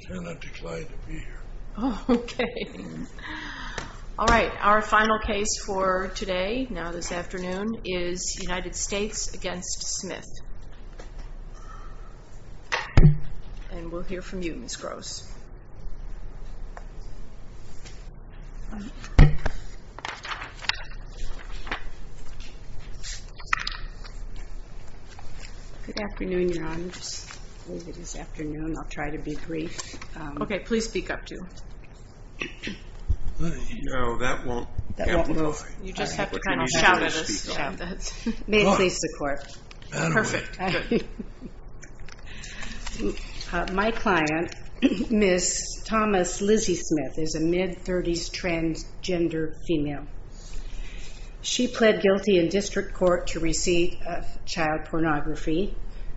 I cannot declare to be here. My client, Ms. Thomas Lizzie Smith, is a mid-30s transgender female. She pled guilty in district court to receive child pornography.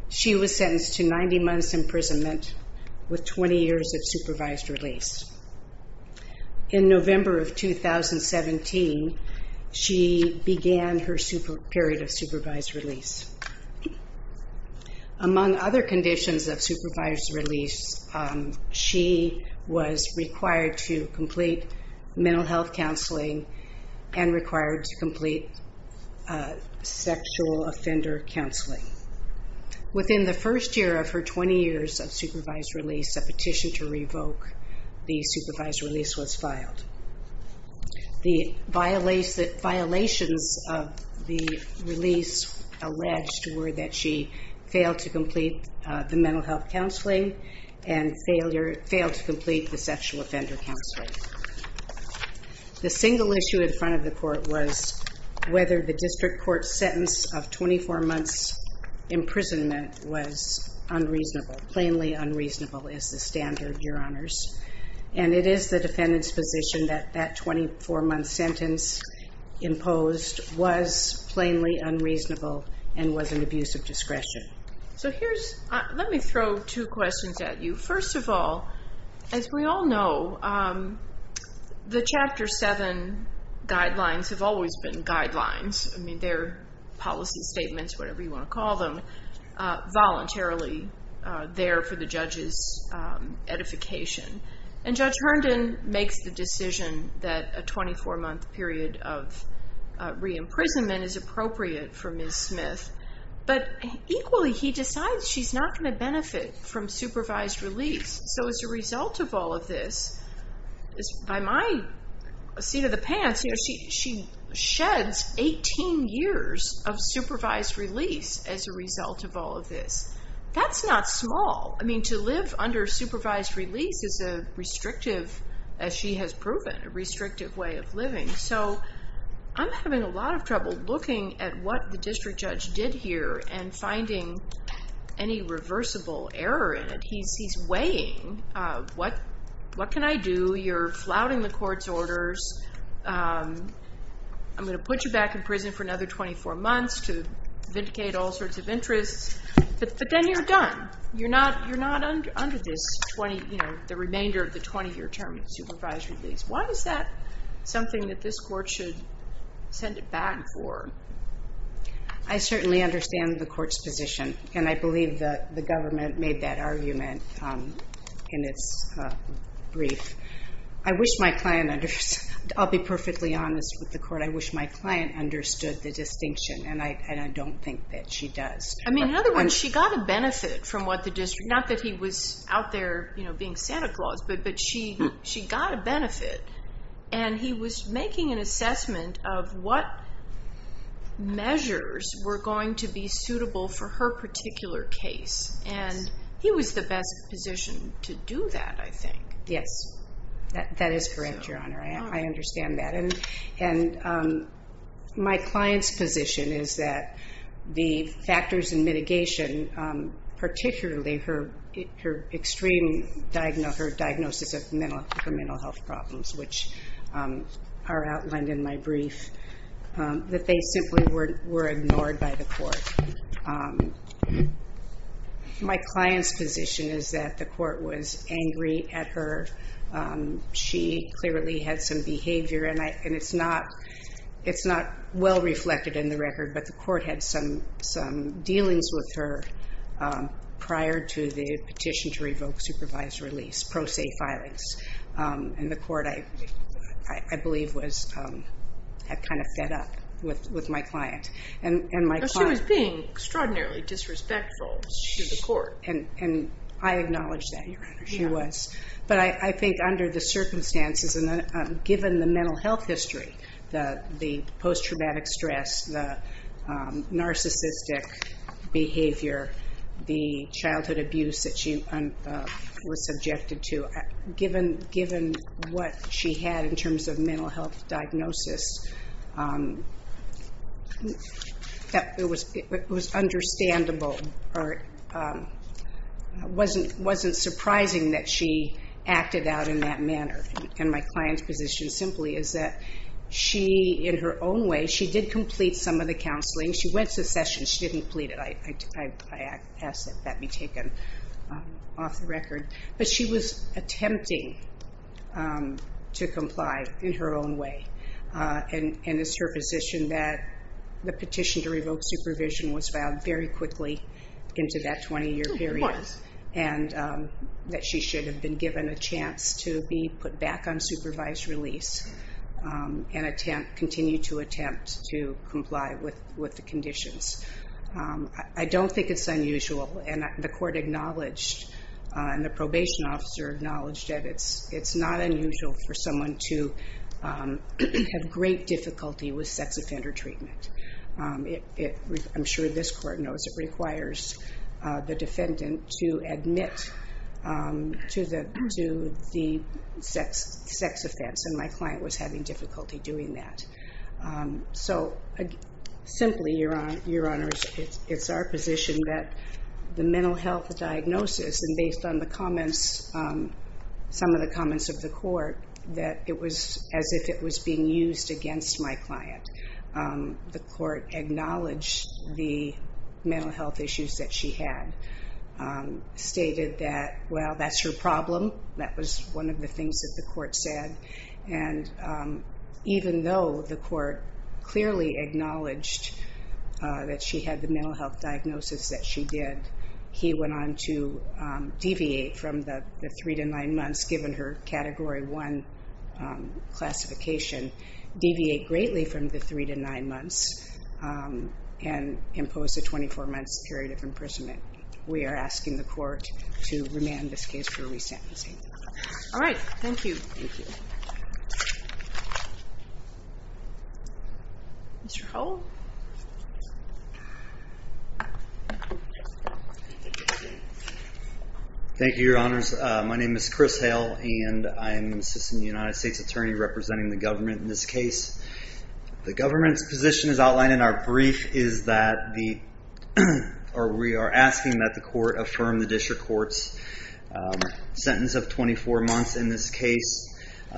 She was sentenced to 90 months imprisonment with 20 years of supervised release. In November of 2017, she began her period of supervised release. Among other conditions of supervised release, she was required to complete mental health counseling and required to complete sexual offender counseling. Within the first year of her 20 years of supervised release, a petition to revoke the supervised release was filed. The violations of the release alleged were that she failed to complete the mental health counseling and failed to complete the sexual offender counseling. The single issue in front of the court was whether the district court's sentence of 24 months imprisonment was unreasonable, plainly unreasonable is the standard, Your Honors. And it is the defendant's position that that 24-month sentence imposed was plainly unreasonable and was an abuse of discretion. Let me throw two questions at you. First of all, as we all know, the Chapter 7 guidelines have always been guidelines. They're policy statements, whatever you want to call them, voluntarily there for the judge's edification. And Judge Herndon makes the decision that a 24-month period of re-imprisonment is appropriate for Ms. Smith. But equally, he decides she's not going to benefit from supervised release. So as a result of all of this, by my seat of the pants, she sheds 18 years of supervised release as a result of all of this. That's not small. I mean, to live under supervised release is a restrictive, as she has proven, a restrictive way of living. So I'm having a lot of trouble looking at what the district judge did here and finding any reversible error in it. He's weighing, what can I do? You're flouting the court's orders. I'm going to put you back in prison for another 24 months to vindicate all sorts of interests. But then you're done. You're not under the remainder of the 20-year term of supervised release. Why is that something that this court should send it back for? I certainly understand the court's position. And I believe that the government made that argument in its brief. I wish my client understood. I'll be perfectly honest with the court. I wish my client understood the distinction. And I don't think that she does. I mean, in other words, she got a benefit from what the district, not that he was out there being Santa Claus. But she got a benefit, and he was making an assessment of what measures were going to be suitable for her particular case. And he was the best position to do that, I think. Yes. That is correct, Your Honor. I understand that. And my client's position is that the factors in mitigation, particularly her extreme diagnosis of mental health problems, which are outlined in my brief, that they simply were ignored by the court. My client's position is that the court was angry at her. She clearly had some behavior, and it's not well-reflected in the record. But the court had some dealings with her prior to the petition to revoke supervised release, pro se filings. And the court, I believe, had kind of fed up with my client. She was being extraordinarily disrespectful to the court. And I acknowledge that, Your Honor, she was. But I think under the circumstances and given the mental health history, the post-traumatic stress, the narcissistic behavior, the childhood abuse that she was subjected to, given what she had in terms of mental health diagnosis, it was understandable. It wasn't surprising that she acted out in that manner. And my client's position simply is that she, in her own way, she did complete some of the counseling. She went to the session. She didn't plead it. I ask that that be taken off the record. But she was attempting to comply in her own way. And it's her position that the petition to revoke supervision was filed very quickly into that 20-year period. It was. And that she should have been given a chance to be put back on supervised release and continue to attempt to comply with the conditions. I don't think it's unusual. And the court acknowledged, and the probation officer acknowledged, that it's not unusual for someone to have great difficulty with sex offender treatment. I'm sure this court knows it requires the defendant to admit to the sex offense. And my client was having difficulty doing that. So simply, Your Honors, it's our position that the mental health diagnosis, and based on some of the comments of the court, that it was as if it was being used against my client. The court acknowledged the mental health issues that she had, stated that, well, that's her problem. That was one of the things that the court said. And even though the court clearly acknowledged that she had the mental health diagnosis that she did, he went on to deviate from the three to nine months, given her Category 1 classification, deviate greatly from the three to nine months and impose a 24-month period of imprisonment. We are asking the court to remand this case for resentencing. All right. Thank you. Thank you. Mr. Hale? Thank you, Your Honors. My name is Chris Hale, and I'm an assistant United States attorney representing the government in this case. The government's position is outlined in our brief, is that we are asking that the court affirm the district court's sentence of 24 months. In this case,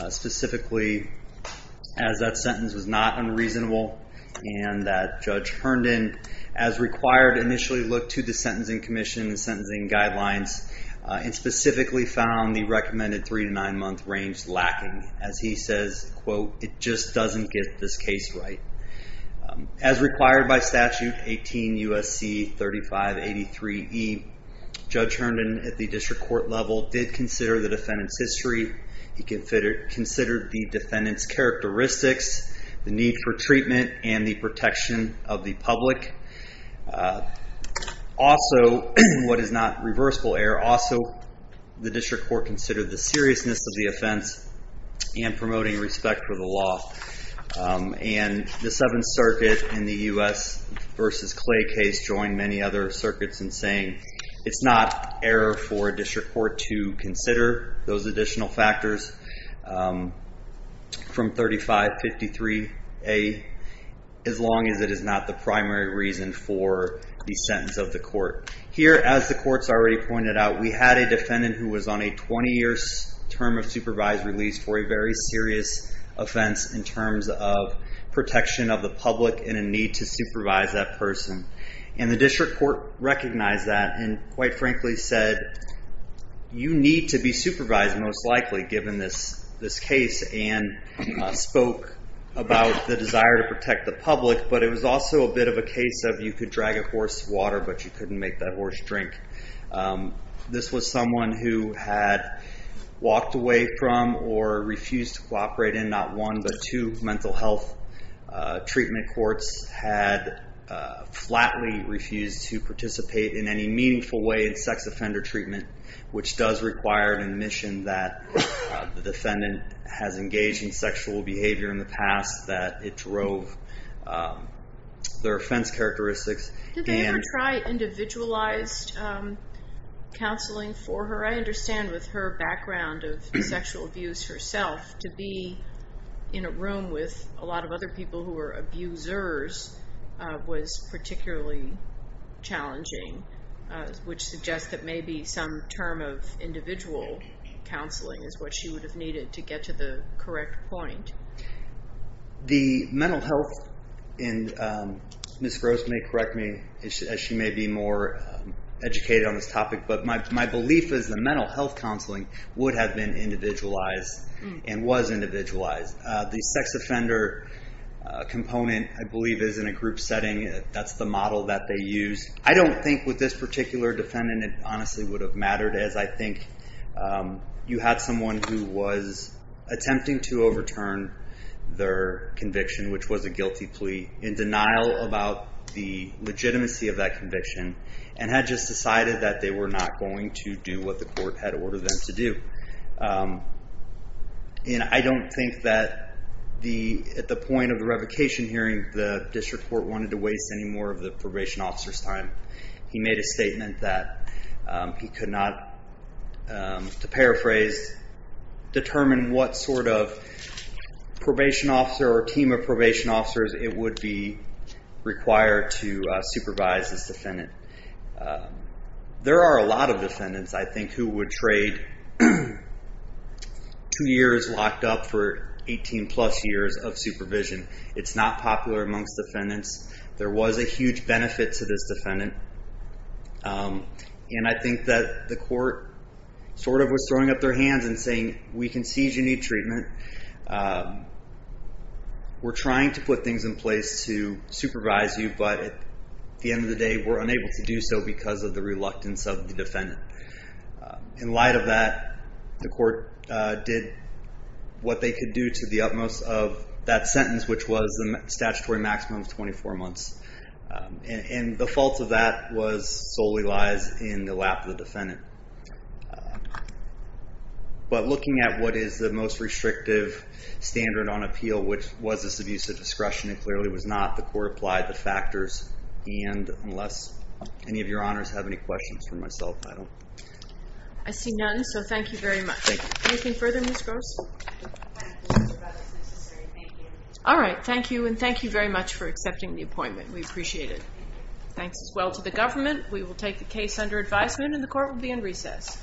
specifically, as that sentence was not unreasonable and that Judge Herndon, as required, initially looked to the Sentencing Commission's sentencing guidelines and specifically found the recommended three to nine month range lacking. As he says, quote, it just doesn't get this case right. As required by statute 18 U.S.C. 3583E, Judge Herndon, at the district court level, did consider the defendant's history. He considered the defendant's characteristics, the need for treatment, and the protection of the public. Also, what is not reversible error, also the district court considered the seriousness of the offense and promoting respect for the law. And the Seventh Circuit in the U.S. versus Clay case joined many other circuits in saying it's not error for a district court to consider those additional factors from 3553A, as long as it is not the primary reason for the sentence of the court. Here, as the court's already pointed out, we had a defendant who was on a 20 year term of supervised release for a very serious offense in terms of protection of the public and a need to supervise that person. And the district court recognized that and quite frankly said, you need to be supervised most likely, given this case, and spoke about the desire to protect the public, but it was also a bit of a case of you could drag a horse to water, but you couldn't make that horse drink. This was someone who had walked away from or refused to cooperate in not one, but two mental health treatment courts, had flatly refused to participate in any meaningful way in sex offender treatment, which does require an admission that the defendant has engaged in sexual behavior in the past, that it drove their offense characteristics. Did they ever try individualized counseling for her? I understand with her background of sexual abuse herself, to be in a room with a lot of other people who were abusers was particularly challenging, which suggests that maybe some term of individual counseling is what she would have needed to get to the correct point. The mental health, and Ms. Gross may correct me, as she may be more educated on this topic, but my belief is the mental health counseling would have been individualized, and was individualized. The sex offender component, I believe, is in a group setting. That's the model that they use. I don't think with this particular defendant it honestly would have mattered, as I think you had someone who was attempting to overturn their conviction, which was a guilty plea, in denial about the legitimacy of that conviction, and had just decided that they were not going to do what the court had ordered them to do. I don't think that at the point of the revocation hearing, the district court wanted to waste any more of the probation officer's time. He made a statement that he could not, to paraphrase, determine what sort of probation officer, or team of probation officers, it would be required to supervise this defendant. There are a lot of defendants, I think, who would trade two years locked up for 18 plus years of supervision. It's not popular amongst defendants. There was a huge benefit to this defendant. I think that the court was throwing up their hands and saying, we can see you need treatment. We're trying to put things in place to supervise you, but at the end of the day, we're unable to do so because of the reluctance of the defendant. In light of that, the court did what they could do to the utmost of that sentence, which was the statutory maximum of 24 months. The fault of that solely lies in the lap of the defendant. Looking at what is the most restrictive standard on appeal, which was this abuse of discretion, it clearly was not. The court applied the factors. Unless any of your honors have any questions for myself, I don't. I see none, so thank you very much. Thank you. Anything further, Ms. Gross? I think that's about as necessary. Thank you. All right. Thank you, and thank you very much for accepting the appointment. We appreciate it. Thanks as well to the government. We will take the case under advisement, and the court will be in recess.